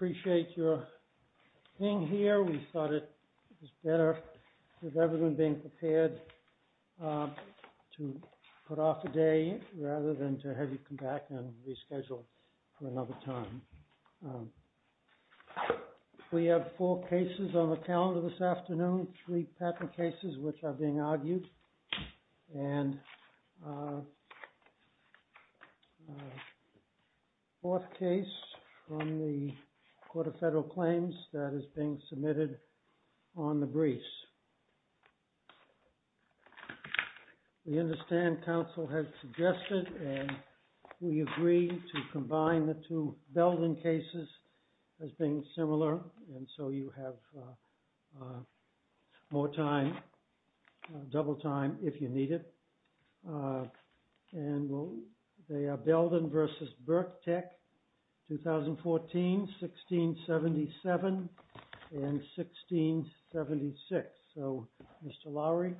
We appreciate your being here. We thought it was better with everyone being prepared to put off a day rather than to have you come back and reschedule for another time. We have four cases on the calendar this afternoon, three patent cases which are being argued. And a fourth case from the Court of Federal Claims that is being submitted on the briefs. We understand counsel has suggested and we agree to combine the two Belden cases as being similar and so you have more time, double time if you need it. And they are Belden v. Berk-Tek, 2014, 1677, and 1676. So, Mr. Lowery.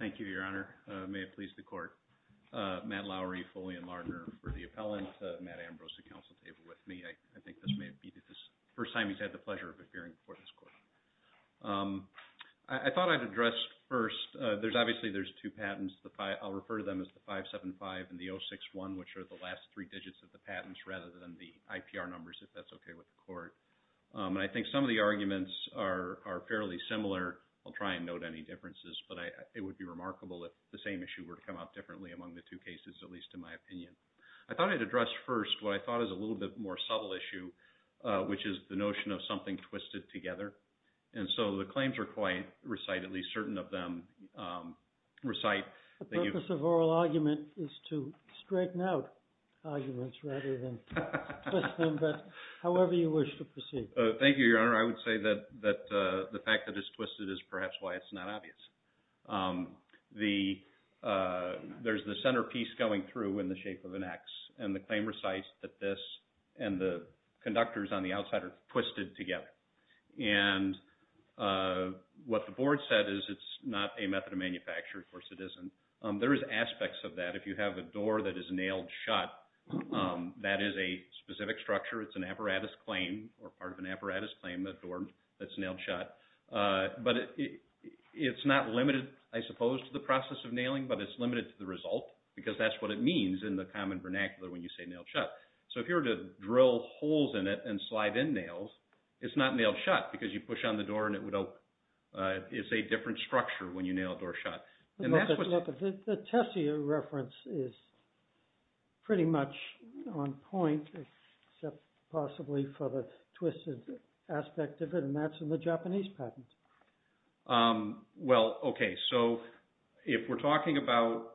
Thank you, Your Honor. May it please the Court. Matt Lowery, Foley & Lardner for the appellant. Matt Ambrose, the counsel, is here with me. I think this may be the first time he's had the pleasure of appearing before this Court. I thought I'd address first, obviously there's two patents. I'll refer to them as the 575 and the 061, which are the last three digits of the patents rather than the IPR numbers, if that's okay with the Court. And I think some of the arguments are fairly similar. I'll try and note any differences. But it would be remarkable if the same issue were to come out differently among the two cases, at least in my opinion. I thought I'd address first what I thought is a little bit more subtle issue, which is the notion of something twisted together. And so the claims are quite recited, at least certain of them recite. The purpose of oral argument is to straighten out arguments rather than twist them, but however you wish to proceed. Thank you, Your Honor. I would say that the fact that it's twisted is perhaps why it's not obvious. There's the centerpiece going through in the shape of an X, and the claim recites that this and the conductors on the outside are twisted together. And what the Board said is it's not a method of manufacture. Of course it isn't. There is aspects of that. If you have a door that is nailed shut, that is a specific structure. It's an apparatus claim or part of an apparatus claim, a door that's nailed shut. But it's not limited, I suppose, to the process of nailing, but it's limited to the result because that's what it means in the common vernacular when you say nailed shut. So if you were to drill holes in it and slide in nails, it's not nailed shut because you push on the door and it would open. It's a different structure when you nail a door shut. The Tessier reference is pretty much on point, except possibly for the twisted aspect of it, and that's in the Japanese patent. Well, okay. So if we're talking about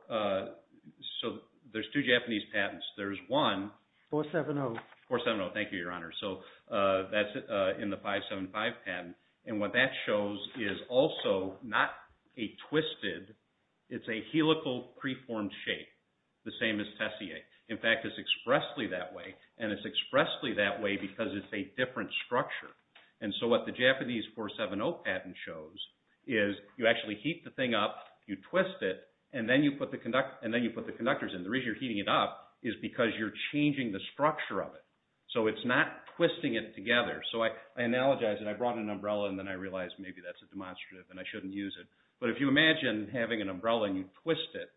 – so there's two Japanese patents. There's one. 470. 470. Thank you, Your Honor. So that's in the 575 patent. And what that shows is also not a twisted – it's a helical preformed shape, the same as Tessier. In fact, it's expressly that way, and it's expressly that way because it's a different structure. And so what the Japanese 470 patent shows is you actually heat the thing up, you twist it, and then you put the conductors in. The reason you're heating it up is because you're changing the structure of it. So it's not twisting it together. So I analogize, and I brought an umbrella, and then I realized maybe that's a demonstrative and I shouldn't use it. But if you imagine having an umbrella and you twist it,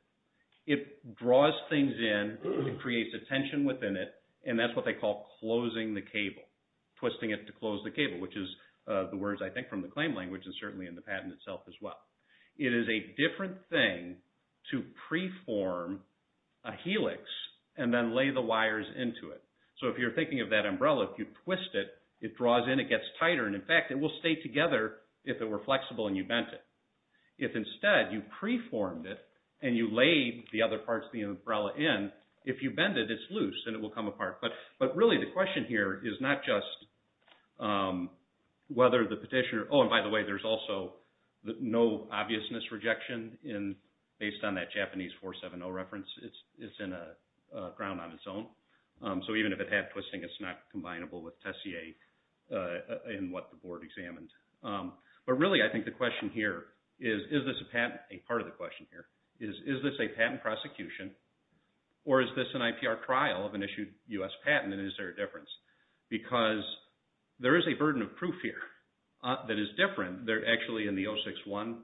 it draws things in. It creates a tension within it, and that's what they call closing the cable, twisting it to close the cable, which is the words, I think, from the claim language and certainly in the patent itself as well. It is a different thing to preform a helix and then lay the wires into it. So if you're thinking of that umbrella, if you twist it, it draws in, it gets tighter. And in fact, it will stay together if it were flexible and you bent it. If instead you preformed it and you laid the other parts of the umbrella in, if you bend it, it's loose and it will come apart. But really the question here is not just whether the petitioner – oh, and by the way, there's also no obviousness rejection based on that Japanese 470 reference. It's in a ground on its own. So even if it had twisting, it's not combinable with Tessier in what the board examined. But really I think the question here is, is this a patent – a part of the question here – is this a U.S. patent and is there a difference? Because there is a burden of proof here that is different. Actually, in the 061,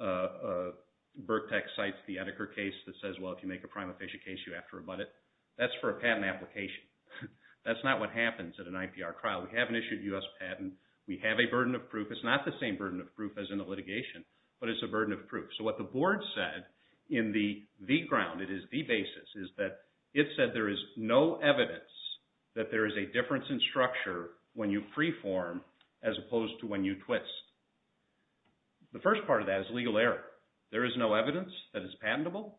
BIRCTEQ cites the Etiquer case that says, well, if you make a prima facie case, you have to rebut it. That's for a patent application. That's not what happens at an IPR trial. We haven't issued a U.S. patent. We have a burden of proof. It's not the same burden of proof as in the litigation, but it's a burden of proof. So what the board said in the ground – it is the basis – is that it said there is no evidence that there is a difference in structure when you freeform as opposed to when you twist. The first part of that is legal error. There is no evidence that it's patentable.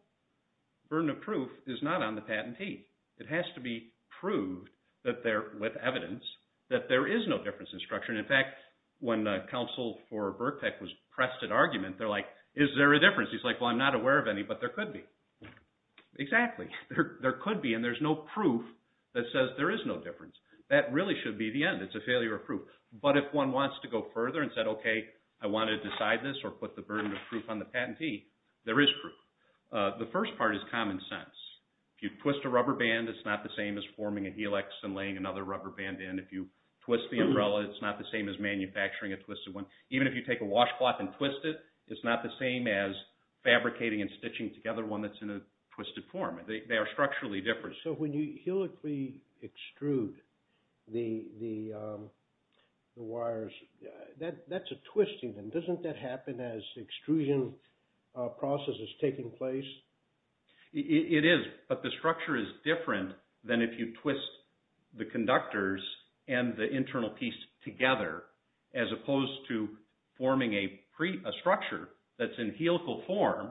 Burden of proof is not on the patentee. It has to be proved with evidence that there is no difference in structure. They're like, is there a difference? He's like, well, I'm not aware of any, but there could be. Exactly. There could be, and there's no proof that says there is no difference. That really should be the end. It's a failure of proof. But if one wants to go further and said, okay, I want to decide this or put the burden of proof on the patentee, there is proof. The first part is common sense. If you twist a rubber band, it's not the same as forming a helix and laying another rubber band in. If you twist the umbrella, it's not the same as manufacturing a twisted one. Even if you take a washcloth and twist it, it's not the same as fabricating and stitching together one that's in a twisted form. They are structurally different. So when you helically extrude the wires, that's a twist even. Doesn't that happen as the extrusion process is taking place? It is, but the structure is different than if you twist the conductors and the internal piece together as opposed to forming a structure that's in helical form.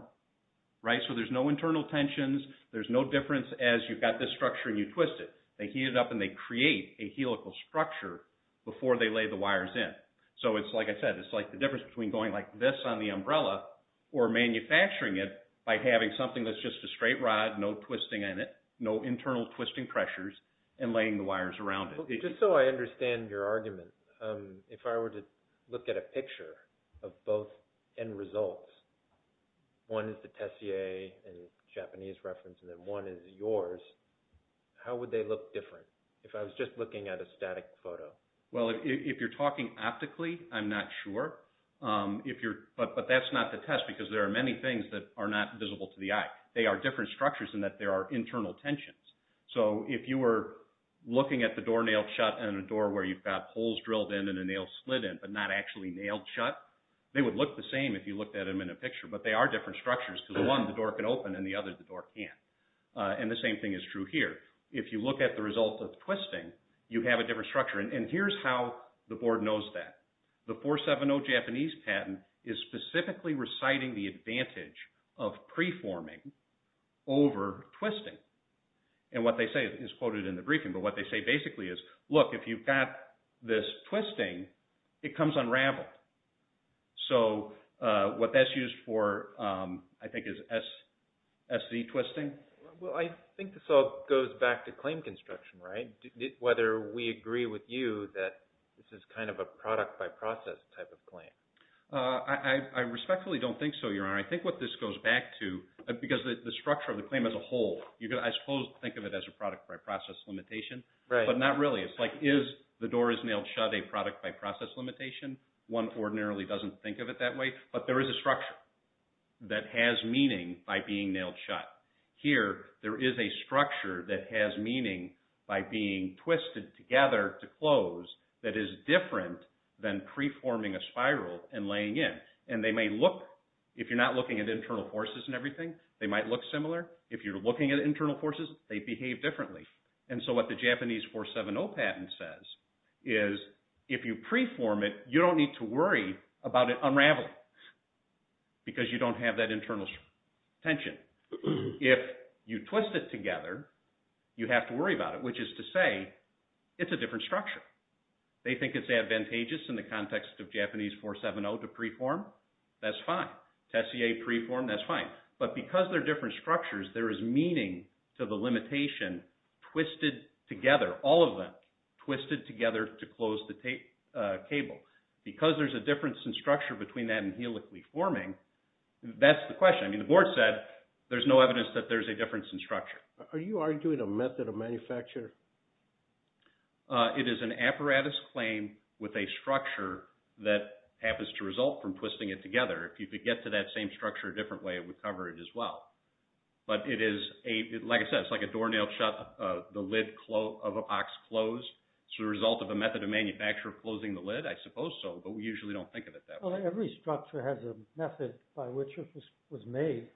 So there's no internal tensions. There's no difference as you've got this structure and you twist it. They heat it up and they create a helical structure before they lay the wires in. So it's like I said, it's like the difference between going like this on the umbrella or manufacturing it by having something that's just a straight rod, no twisting in it, no internal twisting pressures, and laying the wires around it. Just so I understand your argument, if I were to look at a picture of both end results, one is the Tessier in Japanese reference and then one is yours, how would they look different if I was just looking at a static photo? Well, if you're talking optically, I'm not sure. But that's not the test because there are many things that are not visible to the eye. They are different structures in that there are internal tensions. So if you were looking at the door nailed shut and a door where you've got holes drilled in and a nail slid in but not actually nailed shut, they would look the same if you looked at them in a picture. But they are different structures because one, the door can open, and the other, the door can't. And the same thing is true here. If you look at the result of twisting, you have a different structure. And here's how the board knows that. The 470 Japanese patent is specifically reciting the advantage of preforming over twisting. And what they say is quoted in the briefing. But what they say basically is, look, if you've got this twisting, it comes unraveled. So what that's used for, I think, is SZ twisting. Well, I think this all goes back to claim construction, right? Whether we agree with you that this is kind of a product-by-process type of claim. I respectfully don't think so, Your Honor. I think what this goes back to, because the structure of the claim as a whole, I suppose think of it as a product-by-process limitation. But not really. It's like, is the door is nailed shut a product-by-process limitation? One ordinarily doesn't think of it that way. But there is a structure that has meaning by being nailed shut. Here, there is a structure that has meaning by being twisted together to close that is different than preforming a spiral and laying in. And they may look, if you're not looking at internal forces and everything, they might look similar. If you're looking at internal forces, they behave differently. And so what the Japanese 470 patent says is, if you preform it, you don't need to worry about it unraveling because you don't have that internal tension. If you twist it together, you have to worry about it, which is to say, it's a different structure. They think it's advantageous in the context of Japanese 470 to preform. That's fine. Tessier preform, that's fine. But because they're different structures, there is meaning to the limitation twisted together, all of them twisted together to close the cable. Because there's a difference in structure between that and helically forming, that's the question. I mean, the board said there's no evidence that there's a difference in structure. Are you arguing a method of manufacture? It is an apparatus claim with a structure that happens to result from twisting it together. If you could get to that same structure a different way, it would cover it as well. But it is, like I said, it's like a doornail shut, the lid of a box closed. It's the result of a method of manufacture of closing the lid, I suppose so, but we usually don't think of it that way. Well, every structure has a method by which it was made.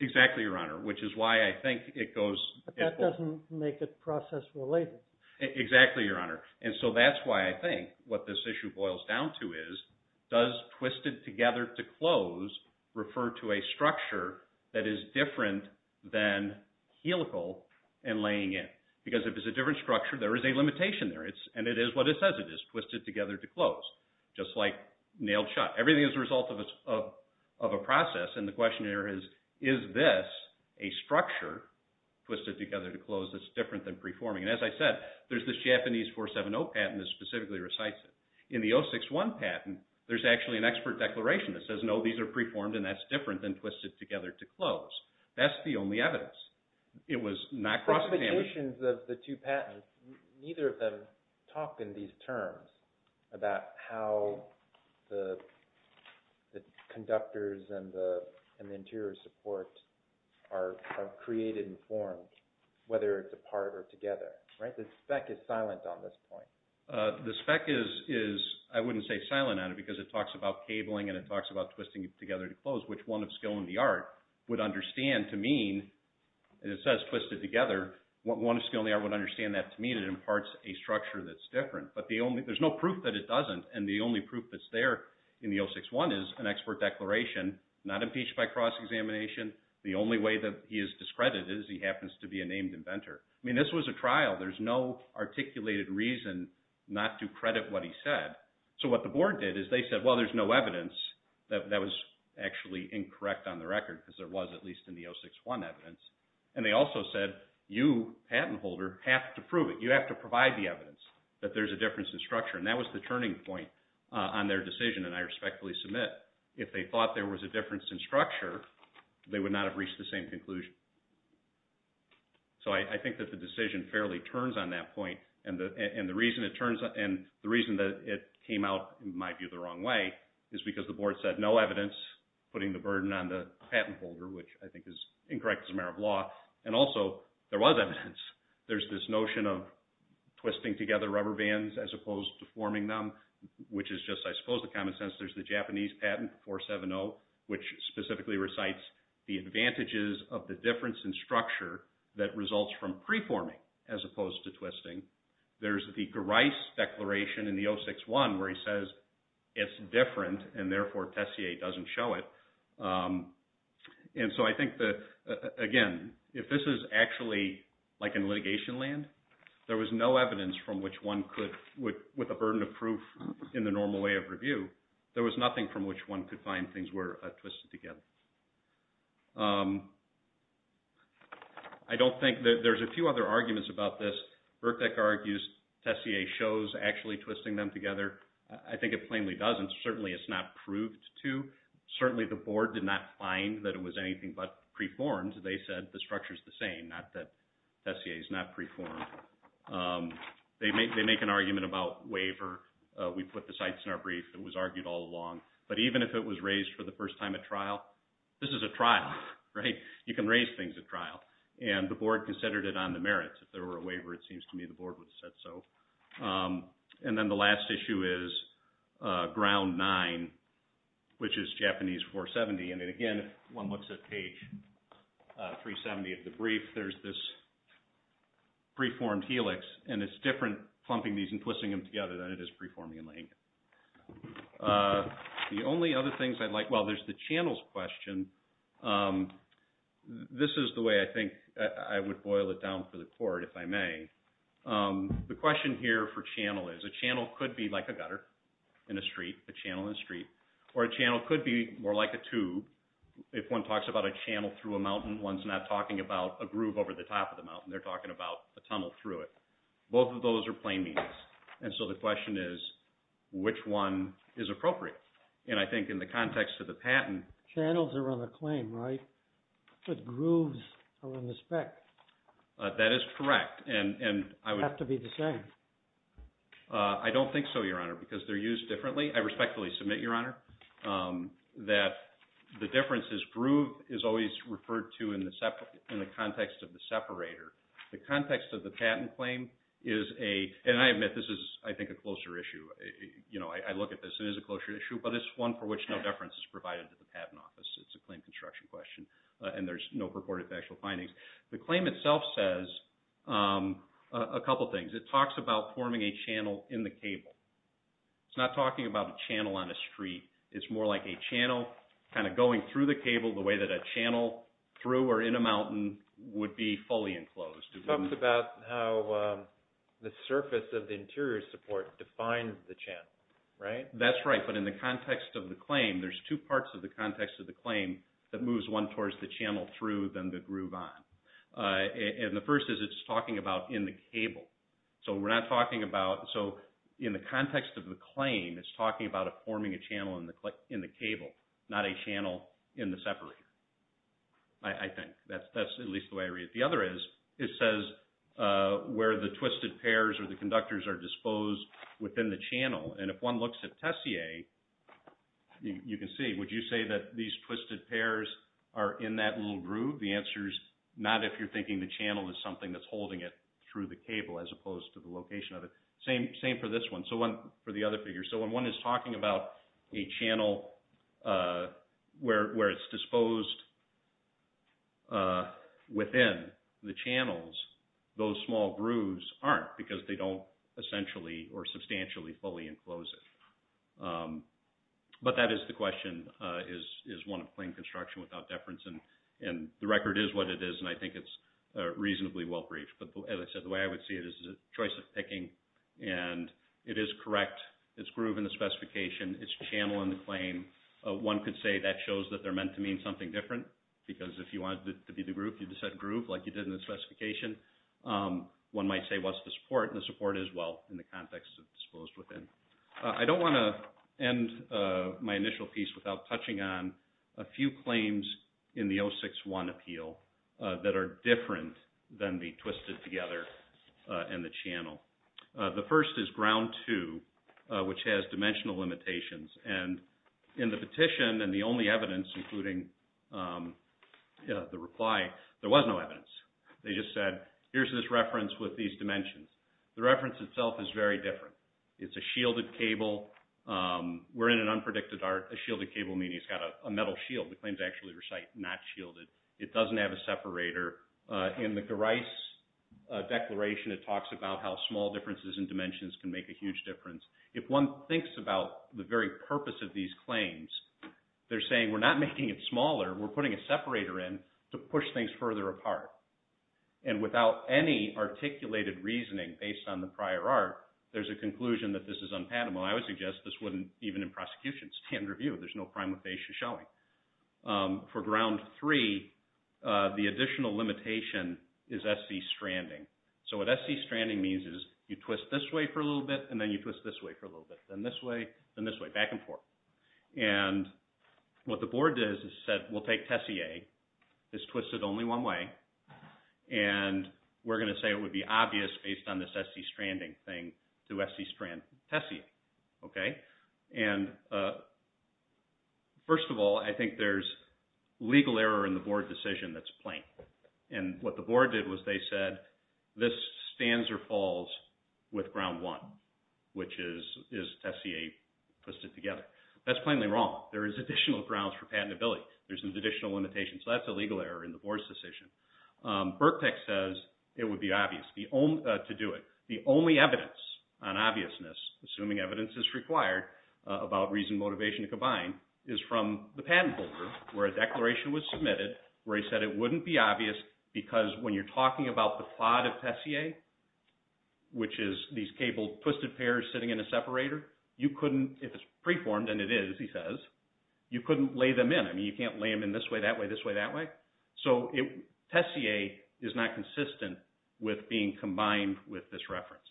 Exactly, Your Honor, which is why I think it goes. But that doesn't make it process related. Exactly, Your Honor. And so that's why I think what this issue boils down to is, does twisted together to close refer to a structure that is different than helical and laying in? Because if it's a different structure, there is a limitation there, and it is what it says it is, twisted together to close, just like nailed shut. Everything is a result of a process, and the question here is, is this a structure twisted together to close that's different than preforming? And as I said, there's this Japanese 470 patent that specifically recites it. In the 061 patent, there's actually an expert declaration that says, no, these are preformed and that's different than twisted together to close. That's the only evidence. It was not cross-examined. The definitions of the two patents, neither of them talk in these terms about how the conductors and the interior support are created and formed, whether it's apart or together, right? The spec is silent on this point. The spec is, I wouldn't say silent on it, because it talks about cabling and it talks about twisting together to close, which one of skill and the art would understand to mean, and it says twisted together. One of skill and the art would understand that to mean it imparts a structure that's different. But there's no proof that it doesn't, and the only proof that's there in the 061 is an expert declaration, not impeached by cross-examination. The only way that he is discredited is he happens to be a named inventor. I mean, this was a trial. There's no articulated reason not to credit what he said. So what the board did is they said, well, there's no evidence. That was actually incorrect on the record, because there was at least in the 061 evidence, and they also said, you, patent holder, have to prove it. You have to provide the evidence that there's a difference in structure, and that was the turning point on their decision, and I respectfully submit, if they thought there was a difference in structure, they would not have reached the same conclusion. So I think that the decision fairly turns on that point, and the reason that it came out, in my view, the wrong way is because the board said no evidence, putting the burden on the patent holder, which I think is incorrect as a matter of law, and also, there was evidence. There's this notion of twisting together rubber bands as opposed to forming them, which is just, I suppose, the common sense. There's the Japanese patent, 470, which specifically recites the advantages of the difference in structure that results from preforming as opposed to twisting. There's the Gerice declaration in the 061 where he says it's different, and therefore, Tessier doesn't show it. And so I think that, again, if this is actually like in litigation land, there was no evidence from which one could, with a burden of proof in the normal way of review, there was nothing from which one could find things were twisted together. I don't think that there's a few other arguments about this. Birkbeck argues Tessier shows actually twisting them together. I think it plainly doesn't. Certainly, it's not proved to. Certainly, the board did not find that it was anything but preformed. They said the structure's the same, not that Tessier's not preformed. They make an argument about waiver. We put the cites in our brief. It was argued all along. But even if it was raised for the first time at trial, this is a trial, right? You can raise things at trial. And the board considered it on the merits. If there were a waiver, it seems to me the board would have said so. And then the last issue is ground nine, which is Japanese 470. And, again, if one looks at page 370 of the brief, there's this preformed helix. And it's different plumping these and twisting them together than it is preforming and laying them. The only other things I'd like – well, there's the channels question. This is the way I think I would boil it down for the court, if I may. The question here for channel is a channel could be like a gutter in a street, a channel in a street. Or a channel could be more like a tube. If one talks about a channel through a mountain, one's not talking about a groove over the top of the mountain. They're talking about a tunnel through it. Both of those are plain means. And so the question is which one is appropriate? And I think in the context of the patent – Channels are on the claim, right? But grooves are on the spec. That is correct. They have to be the same. I don't think so, Your Honor, because they're used differently. I respectfully submit, Your Honor, that the difference is groove is always referred to in the context of the separator. The context of the patent claim is a – and I admit this is, I think, a closer issue. I look at this. It is a closer issue. But it's one for which no deference is provided to the patent office. It's a claim construction question. And there's no purported factual findings. The claim itself says a couple things. It talks about forming a channel in the cable. It's not talking about a channel on a street. It's more like a channel kind of going through the cable the way that a channel through or in a mountain would be fully enclosed. It talks about how the surface of the interior support defines the channel, right? That's right. But in the context of the claim, there's two parts of the context of the And the first is it's talking about in the cable. So we're not talking about – so in the context of the claim, it's talking about forming a channel in the cable, not a channel in the separator, I think. That's at least the way I read it. The other is it says where the twisted pairs or the conductors are disposed within the channel. And if one looks at Tessier, you can see, would you say that these twisted pairs are in that little groove? The answer is not if you're thinking the channel is something that's holding it through the cable as opposed to the location of it. Same for this one. So for the other figure. So when one is talking about a channel where it's disposed within the channels, those small grooves aren't because they don't essentially or substantially fully enclose it. But that is the question, is one of plain construction without deference. And the record is what it is, and I think it's reasonably well-briefed. But, as I said, the way I would see it is a choice of picking. And it is correct. It's groove in the specification. It's channel in the claim. One could say that shows that they're meant to mean something different because if you wanted it to be the groove, you just said groove, like you did in the specification. One might say, what's the support? And the support is, well, in the context of disposed within. I don't want to end my initial piece without touching on a few claims in the 061 appeal that are different than the twisted together and the channel. The first is ground two, which has dimensional limitations. And in the petition, and the only evidence, including the reply, there was no evidence. They just said, here's this reference with these dimensions. The reference itself is very different. It's a shielded cable. We're in an unpredicted art. A shielded cable meaning it's got a metal shield. The claims actually recite not shielded. It doesn't have a separator. In the Gerice declaration, it talks about how small differences in dimensions can make a huge difference. If one thinks about the very purpose of these claims, they're saying we're not making it smaller. We're putting a separator in to push things further apart. And without any articulated reasoning based on the prior art, there's a conclusion that this is unpatentable. I would suggest this wouldn't even in prosecution stand review. There's no prima facie showing. For ground three, the additional limitation is SC stranding. So what SC stranding means is you twist this way for a little bit, and then you twist this way for a little bit, then this way, then this way, back and forth. And what the board did is said, we'll take Tessier. It's twisted only one way. And we're going to say it would be obvious based on this SC stranding thing to SC strand Tessier. First of all, I think there's legal error in the board decision that's plain. And what the board did was they said, this stands or falls with ground one, which is Tessier twisted together. That's plainly wrong. There is additional grounds for patentability. There's an additional limitation. So that's a legal error in the board's decision. Birkbeck says it would be obvious to do it. The only evidence on obviousness, assuming evidence is required, about reason and motivation to combine, is from the patent holder, where a declaration was submitted where he said it wouldn't be obvious because when you're talking about the plot of Tessier, which is these cable twisted pairs sitting in a separator, you couldn't, if it's preformed, and it is, he says, you couldn't lay them in. I mean, you can't lay them in this way, that way, this way, that way. So Tessier is not consistent with being combined with this reference.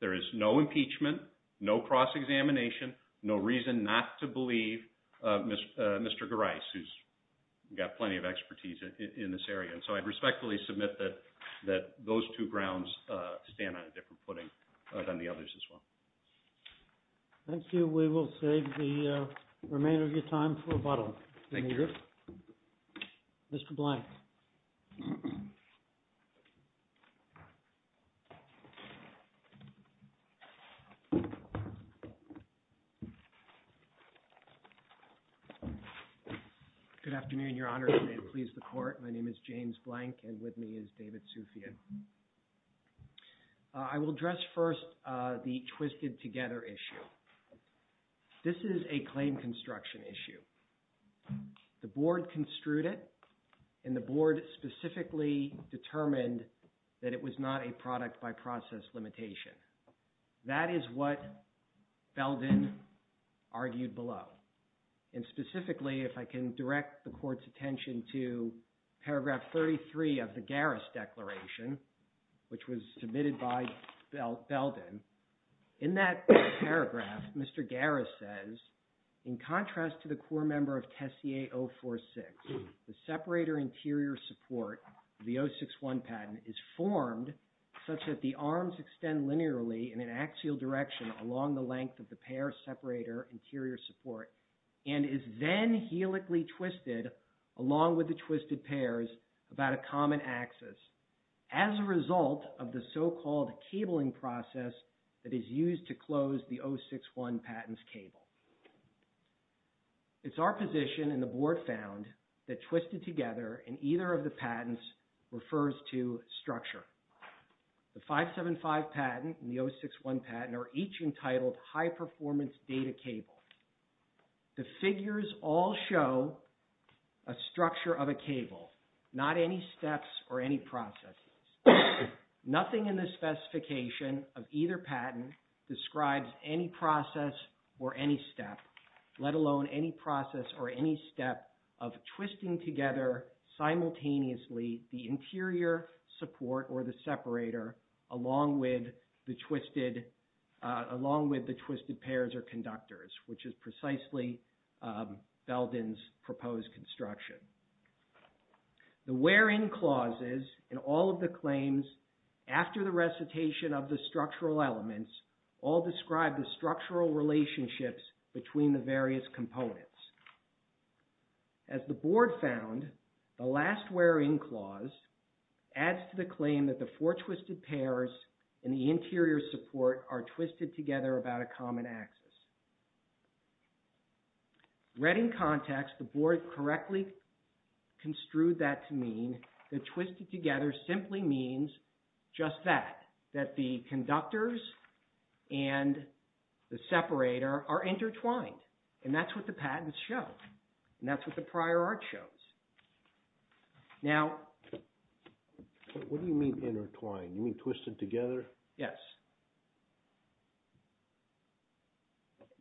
There is no impeachment, no cross-examination, no reason not to believe Mr. Gerais, who's got plenty of expertise in this area. And so I'd respectfully submit that those two grounds stand on a different footing than the others as well. Thank you. We will save the remainder of your time for rebuttal. Thank you. Mr. Blank. Good afternoon, Your Honor, and may it please the Court. My name is James Blank, and with me is David Soufian. I will address first the twisted-together issue. This is a claim construction issue. The Board construed it, and the Board specifically determined that it was not a product-by-process limitation. That is what Belden argued below. And specifically, if I can direct the Court's attention to which was submitted by Belden, in that paragraph, Mr. Gerais says, in contrast to the core member of Tessier 046, the separator interior support of the 061 patent is formed such that the arms extend linearly in an axial direction along the length of the pair separator interior support, and is then helically twisted along with the twisted pairs about a mile apart. As a result of the so-called cabling process that is used to close the 061 patent's cable. It's our position, and the Board found, that twisted-together in either of the patents refers to structure. The 575 patent and the 061 patent are each entitled high-performance data cable. The figures all show a structure of a cable, not any steps or any processes. Nothing in the specification of either patent describes any process or any step, let alone any process or any step, of twisting together simultaneously the interior support or the separator along with the twisted pairs or conductors, which is precisely Belden's proposed construction. The where-in clauses in all of the claims after the recitation of the structural elements all describe the structural relationships between the various components. As the Board found, the last where-in clause adds to the claim that the four twisted pairs in the interior support are twisted together about a common axis. Read in context, the Board correctly construed that to mean that twisted together simply means just that, that the conductors and the separator are intertwined, and that's what the patents show, and that's what the prior art shows. Now... What do you mean intertwined? You mean twisted together? Yes.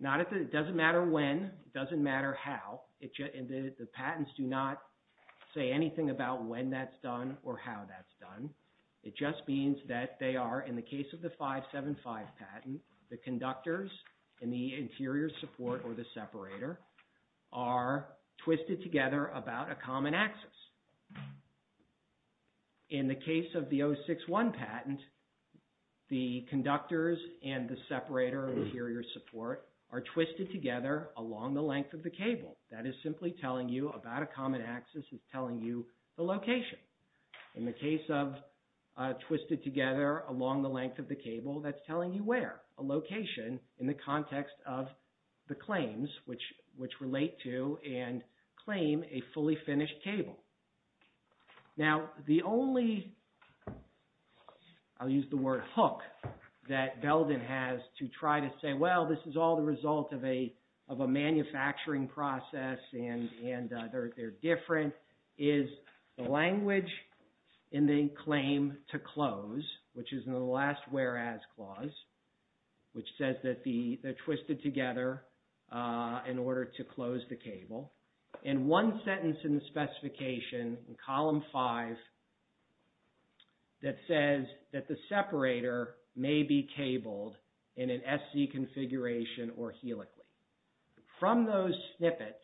It doesn't matter when, it doesn't matter how. The patents do not say anything about when that's done or how that's done. It just means that they are, in the case of the 575 patent, the conductors and the interior support or the separator are twisted together about a common axis. In the case of the 061 patent, the conductors and the separator and the interior support are twisted together along the length of the cable. That is simply telling you about a common axis is telling you the location. In the case of twisted together along the length of the cable, that's telling you where, a location in the context of the claims, which relate to and claim a fully finished cable. Now, the only... I'll use the word hook that Belden has to try to say, well, this is all the result of a manufacturing process and they're different, is the language in the claim to close, which is in the last whereas clause, which says that they're twisted together in order to close the cable. And one sentence in the specification in column five that says that the separator may be cabled in an SC configuration or helically. From those snippets,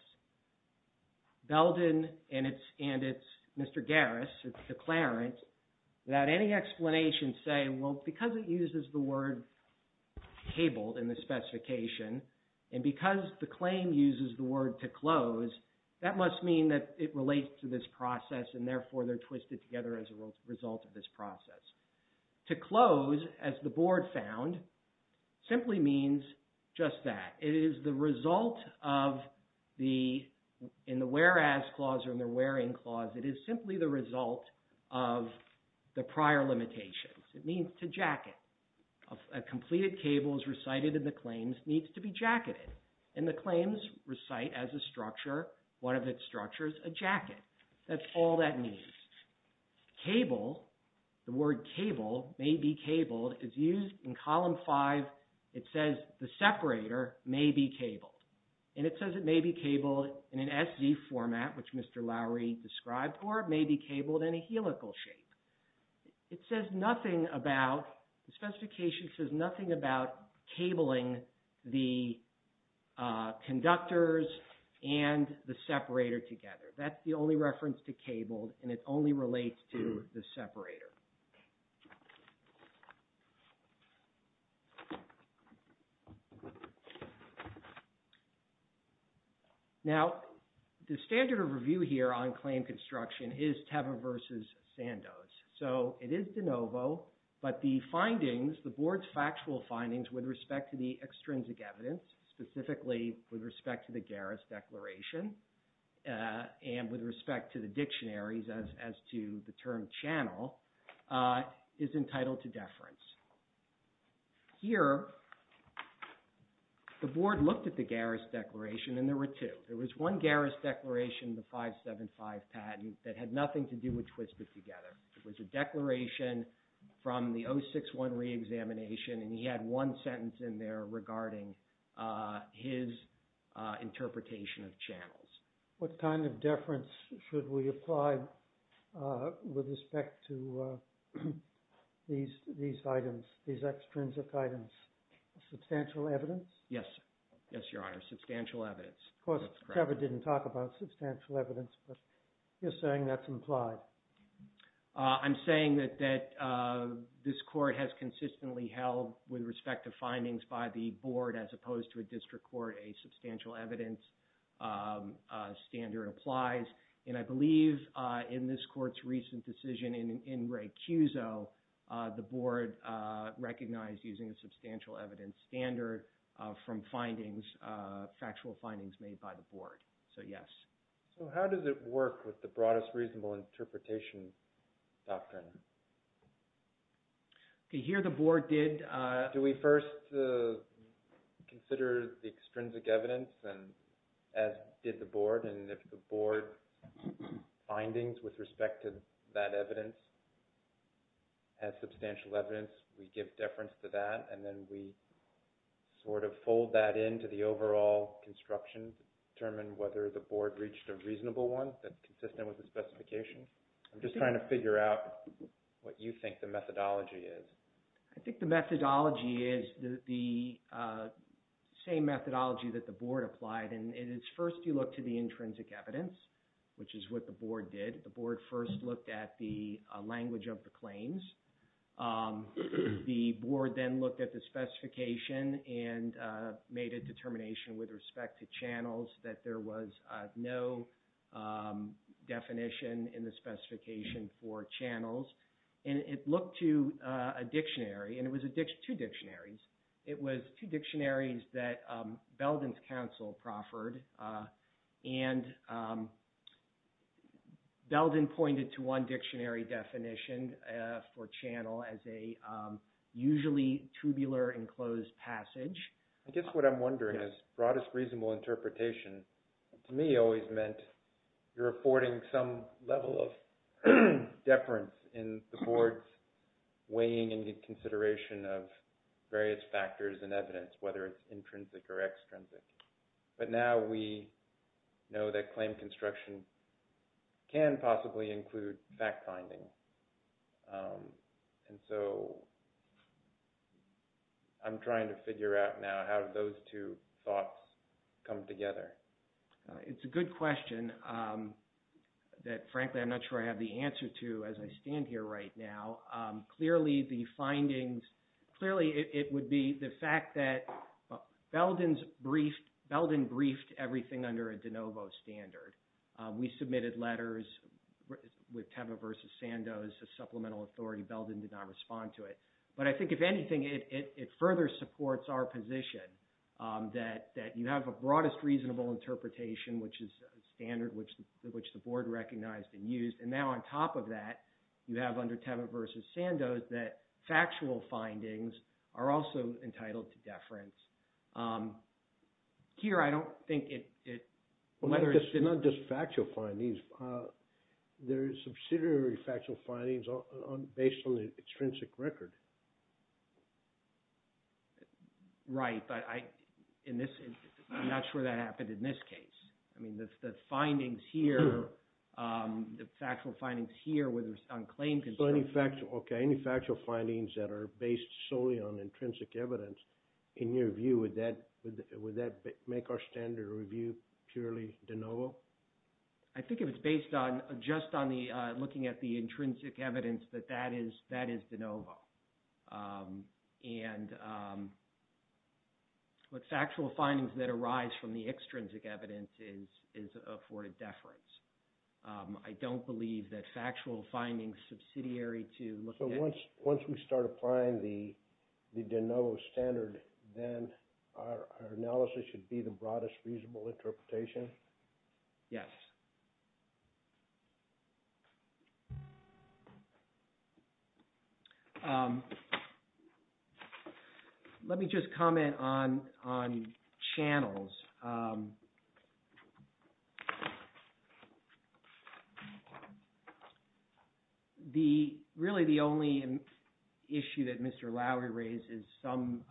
Belden and it's Mr. Garris, it's declarant, without any explanation say, well, because it uses the word cabled in the specification and because the claim uses the word to close, that must mean that it relates to this process and therefore they're twisted together as a result of this process. To close as the board found simply means just that. It is the result of the, in the whereas clause or in the wearing clause, it is simply the result of the prior limitations. It means to jacket a completed cables recited in the claims needs to be recited as a structure. One of its structures, a jacket. That's all that means. Cable, the word cable may be cabled is used in column five. It says the separator may be cabled and it says it may be cabled in an SC format, which Mr. Lowry described, or it may be cabled in a helical shape. It says nothing about, the specification says nothing about cabling the conductors and the separator together. That's the only reference to cabled and it only relates to the separator. Now the standard of review here on claim construction is Teva versus Sandoz. So it is De Novo, but the findings, the board's factual findings with respect to the extrinsic evidence, specifically with respect to the Garris declaration and with respect to the dictionaries as, as to the term channel is entitled to deference. Here the board looked at the Garris declaration and there were two. There was one Garris declaration, the 575 patent that had nothing to do with Twisted Together. It was a declaration from the 061 re-examination and he had one sentence in there regarding his interpretation of channels. What kind of deference should we apply with respect to these, these items, these extrinsic items? Substantial evidence? Yes. Yes, Your Honor. Substantial evidence. Of course Teva didn't talk about substantial evidence, but you're saying that's implied. I'm saying that, that this court has consistently held with respect to findings by the board as opposed to a district court, a substantial evidence standard applies. And I believe in this court's recent decision in Ray Kuzo, the board recognized using a substantial evidence standard from findings, factual findings made by the board. So yes. So how does it work with the broadest reasonable interpretation doctrine? Okay. Here the board did. Do we first consider the extrinsic evidence and as did the board and if the board findings with respect to that evidence has substantial evidence, we give deference to that and then we sort of fold that into the overall construction, determine whether the board reached a reasonable one that's consistent with the specification. I'm just trying to figure out what you think the methodology is. I think the methodology is the same methodology that the board applied. And it is first you look to the intrinsic evidence, which is what the board did. The board first looked at the language of the claims. The board then looked at the specification and made a determination with respect to channels that there was no definition in the specification for channels. And it looked to a dictionary and it was two dictionaries. It was two dictionaries that Belden's counsel proffered and Belden pointed to one dictionary definition for channel as a usually tubular enclosed passage. I guess what I'm wondering is broadest reasonable interpretation to me always meant you're affording some level of deference in the board's weighing and consideration of various factors and evidence, whether it's intrinsic or extrinsic. But now we know that claim construction can possibly include fact finding. And so I'm trying to figure out now how those two thoughts come together. It's a good question that frankly, I'm not sure I have the answer to as I stand here right now. Clearly the findings, clearly it would be the fact that Belden briefed everything under a De Novo standard. We submitted letters with Teva versus Sandoz, a supplemental authority. Belden did not respond to it. But I think if anything, it further supports our position that you have a broadest reasonable interpretation, which is a standard which the board recognized and used. And now on top of that, you have under Teva versus Sandoz, that factual findings are also entitled to deference. Here, I don't think it... It's not just factual findings. There's subsidiary factual findings based on the extrinsic record. Right, but I'm not sure that happened in this case. I mean, the findings here, the factual findings here where there's unclaimed... So any factual... Okay, any factual findings that are based solely on intrinsic evidence, in your view, would that make our standard review purely De Novo? I think if it's based on just looking at the intrinsic evidence, that that is De Novo. But factual findings that arise from the extrinsic evidence is afforded deference. I don't believe that factual findings subsidiary to... So once we start applying the De Novo standard, then our analysis should be the broadest reasonable interpretation? Yes. Let me just comment on channels. The... Really the only issue that Mr. Lowery raised is some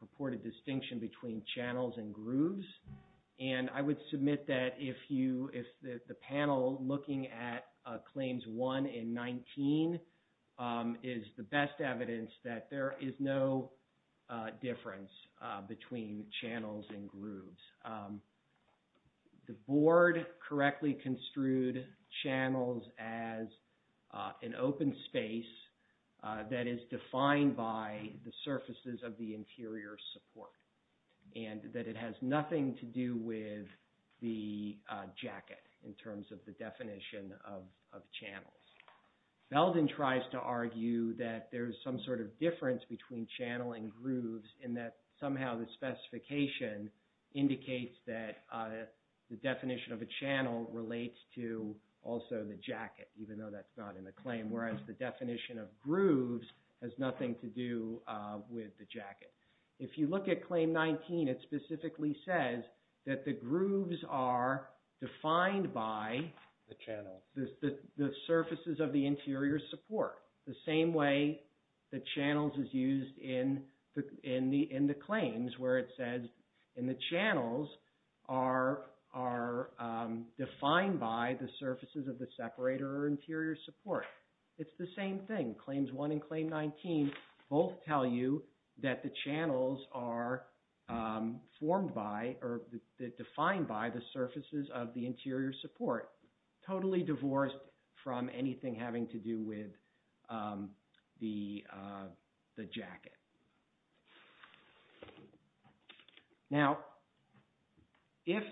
purported distinction between channels and grooves. And I would submit that if you... If the panel looking at claims one and 19 is the best evidence that there is no difference between channels and grooves. The board correctly construed channels as an open space that is defined by the surfaces of the interior support. And that it has nothing to do with the jacket in terms of the definition of channels. Belden tries to argue that there's some sort of difference between channels and grooves in that somehow the specification indicates that the definition of a channel relates to also the jacket, even though that's not in the claim. Whereas the definition of grooves has nothing to do with the jacket. If you look at claim 19, it specifically says that the grooves are defined by the channel. The surfaces of the interior support. The same way that channels is used in the claims, where it says in the channels are defined by the surfaces of the separator or interior support. It's the same thing. Claims one and claim 19 both tell you that the channels are formed by or defined by the surfaces of the interior support. Totally divorced from anything having to do with the jacket. Now, if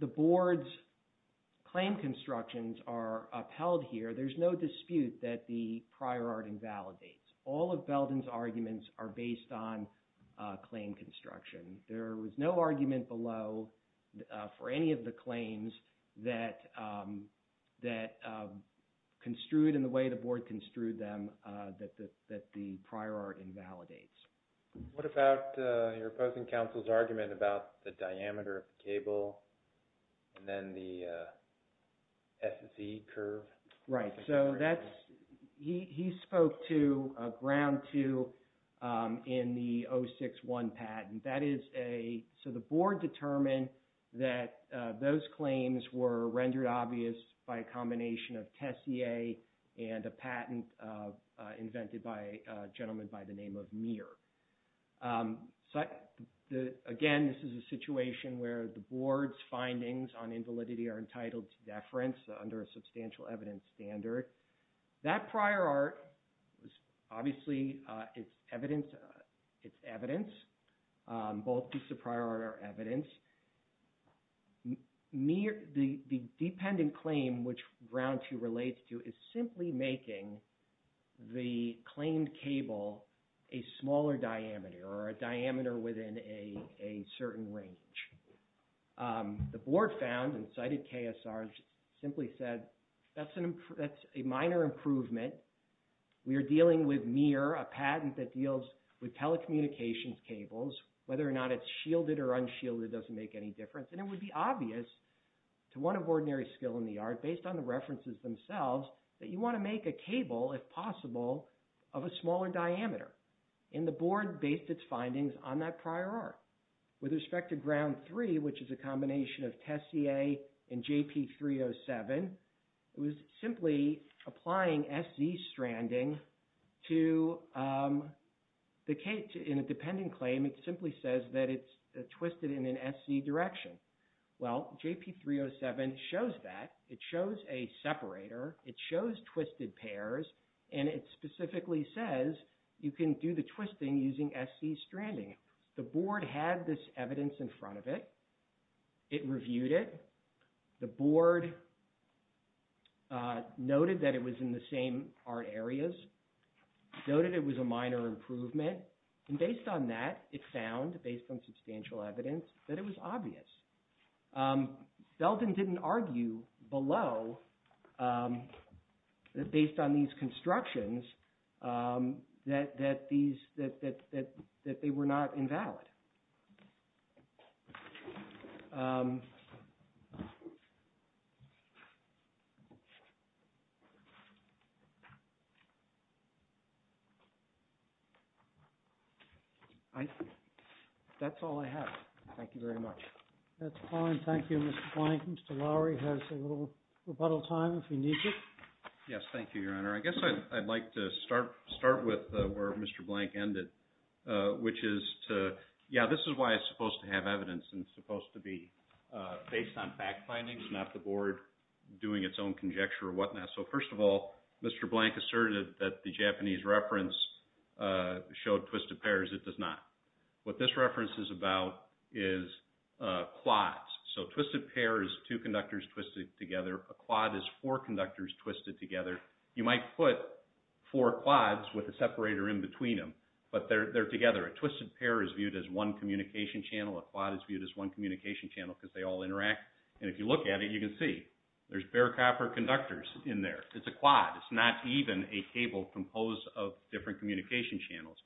the board's claim constructions are upheld here, there's no dispute that the prior art invalidates. All of Belden's arguments are based on claim construction. There was no argument below for any of the claims that construed in the way the board construed them that the prior art invalidates. What about your opposing counsel's argument about the diameter of the cable and then the SSE curve? Right. He spoke to ground two in the 061 patent. The board determined that those claims were rendered obvious by a combination of Tessier and a patent invented by a gentleman by the name of Muir. Again, this is a situation where the board's findings on invalidity are entitled to deference under a substantial evidence standard. That prior art, obviously it's evidence. Both pieces of prior art are evidence. The dependent claim, which ground two relates to is simply making the claimed cable a smaller diameter or a diameter within a certain range. The board found and cited KSR simply said, that's a minor improvement. We are dealing with Muir, a patent that deals with telecommunications cables, whether or not it's shielded or unshielded doesn't make any difference. It would be obvious to one of ordinary skill in the art based on the references themselves, that you want to make a cable if possible of a smaller diameter. The board based its findings on that prior art. With respect to ground three, which is a combination of Tessier and JP 307, it was simply applying SC stranding to the case in a dependent claim. It simply says that it's twisted in an SC direction. Well, JP 307 shows that it shows a separator. It shows twisted pairs and it specifically says you can do the twisting using SC stranding. The board had this evidence in front of it. It reviewed it. The board noted that it was in the same art areas, noted it was a minor improvement. And based on that, it found based on substantial evidence that it was obvious. Belden didn't argue below that based on these constructions, that they were not invalid. I, that's all I have. Thank you very much. That's fine. Thank you. Mr. Lowery has a little rebuttal time if you need it. Yes. Thank you, your honor. I guess I'd like to start, start with where Mr. Blank ended, which is to, yeah, this is why it's supposed to have evidence and it's supposed to be based on fact findings, not the board doing its own conjecture or whatnot. So first of all, Mr. Blank asserted that the Japanese reference showed twisted pairs. It does not. What this reference is about is quads. So twisted pairs, two conductors twisted together. A quad is four conductors twisted together. You might put four quads with a separator in between them, but they're, they're together. A twisted pair is viewed as one communication channel. A quad is viewed as one communication channel because they all interact. And if you look at it, you can see there's bare copper conductors in there. It's a quad. It's not even a cable composed of different communication channels.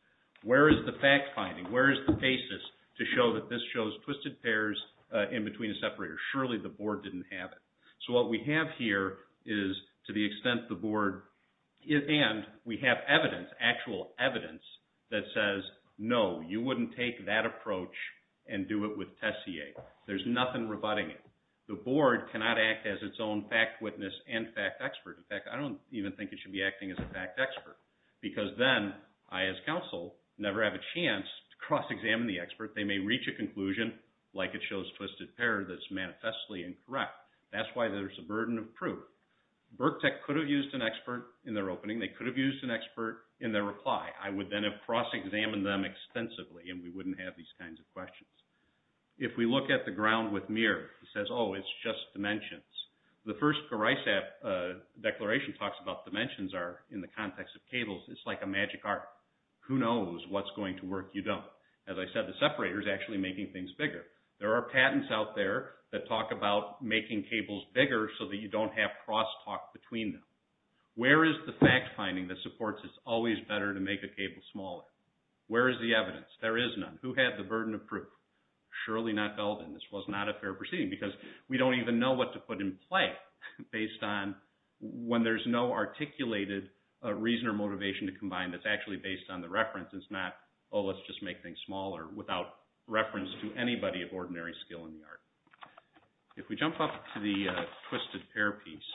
Where is the fact finding? Where is the basis to show that this shows twisted pairs in between a separator? Surely the board didn't have it. So what we have here is to the extent the board is, and we have evidence, actual evidence that says, no, you wouldn't take that approach and do it with Tessier. There's nothing rebutting it. The board cannot act as its own fact witness and fact expert. In fact, I don't even think it should be acting as a fact expert because then I, as counsel never have a chance to cross examine the expert. They may reach a conclusion like it shows twisted pair that's manifestly incorrect. That's why there's a burden of proof. Birk tech could have used an expert in their opening. They could have used an expert in their reply. I would then have cross examined them extensively. And we wouldn't have these kinds of questions. If we look at the ground with mirror, it says, oh, it's just dimensions. The first garage app declaration talks about dimensions are in the context of cables. It's like a magic art. Who knows what's going to work. You don't, as I said, the separator is actually making things bigger. There are patents out there that talk about making cables bigger so that you don't have cross talk between them. Where is the fact finding that supports? It's always better to make a cable smaller. Where is the evidence? There is none. Who had the burden of proof? Surely not Belden. This was not a fair proceeding because we don't even know what to put in play based on when there's no articulated reason or motivation to combine. That's actually based on the reference. It's not, oh, let's just make things smaller without reference to anybody of ordinary skill in the art. If we jump up to the twisted pair piece,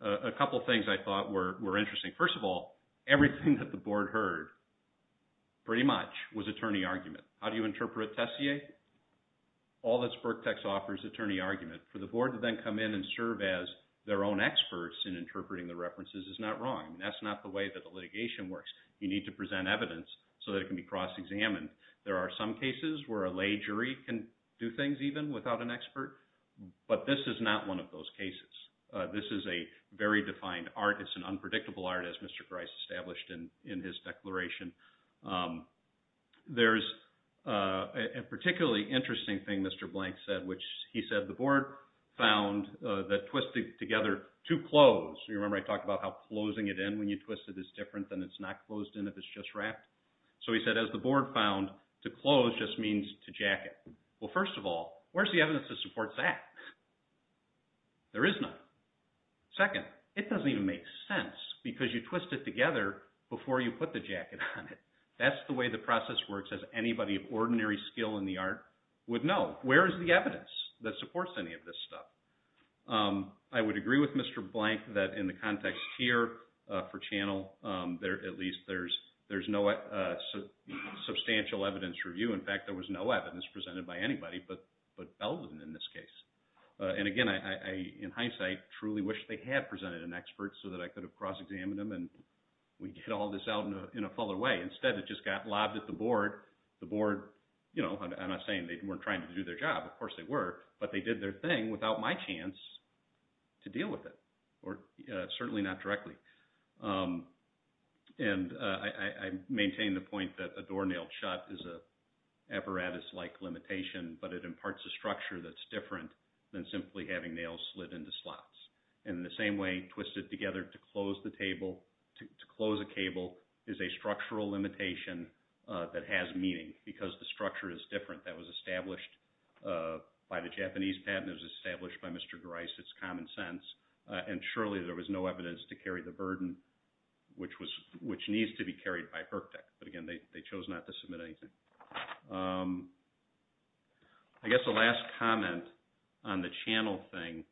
a couple of things I thought were interesting. First of all, everything that the board heard pretty much was attorney argument. How do you interpret Tessier? All that's Birktex offers attorney argument for the board to then come in and serve as their own experts in interpreting the references is not wrong. That's not the way that the litigation works. You need to present evidence so that it can be cross examined. There are some cases where a lay jury can do things even without an expert, but this is not one of those cases. This is a very defined art. It's an unpredictable art as Mr. Grice established in his declaration. There's a particularly interesting thing Mr. Blank said, which he said the board found that twisted together to close. You remember I talked about how closing it in when you twist it is different than it's not closed in. If it's just wrapped. So he said, as the board found to close just means to jacket. Well, first of all, where's the evidence to support that? There is not second. It doesn't even make sense because you twist it together before you put the jacket on it. That's the way the process works as anybody of ordinary skill in the art would know. Where is the evidence that supports any of this stuff? I would agree with Mr. Blank that in the context here for channel there, at least there's, there's no substantial evidence review. In fact, there was no evidence presented by anybody, but, but Elvin in this case, and again, I, in hindsight, truly wish they had presented an expert so that I could have cross examined them and we get all this out in a, in a fuller way. Instead, it just got lobbed at the board, the board, you know, I'm not saying they weren't trying to do their job. Of course they were, but they did their thing without my chance to deal with it or certainly not directly. And I, I, I maintain the point that a door nailed shut is a, an apparatus like limitation, but it imparts a structure that's different than simply having nails slid into slots. And the same way twisted together to close the table, to close a cable is a structural limitation that has meaning because the structure is different. That was established by the Japanese patent is established by Mr. Grice. It's common sense. And surely there was no evidence to carry the burden, which was, which needs to be carried by her tech. But again, they chose not to submit anything. I guess the last comment on the channel thing,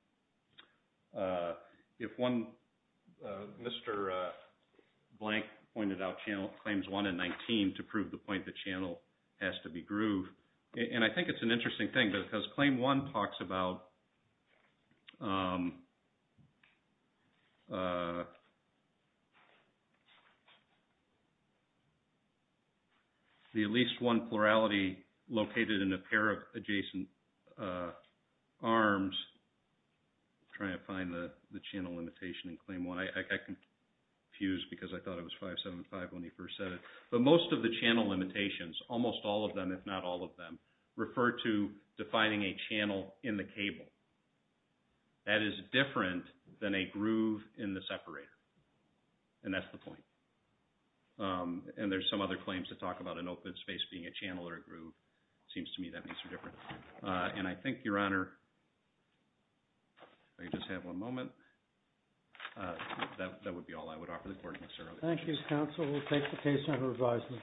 if one, Mr. Blank pointed out channel claims one and 19 to prove the point, the channel has to be groove. And I think it's an interesting thing because claim one talks about the, the at least one plurality located in a pair of adjacent arms, trying to find the, the channel limitation and claim one. I can fuse because I thought it was five, seven, five when he first said it, but most of the channel limitations, almost all of them, if not all of them refer to defining a channel in the cable. That is different than a groove in the separator. And that's the point. And there's some other claims to talk about an open space being a channel or a groove. It seems to me that makes a difference. And I think your honor, I just have one moment. That would be all I would offer the court. Thank you. Counsel. We'll take the case under advisement.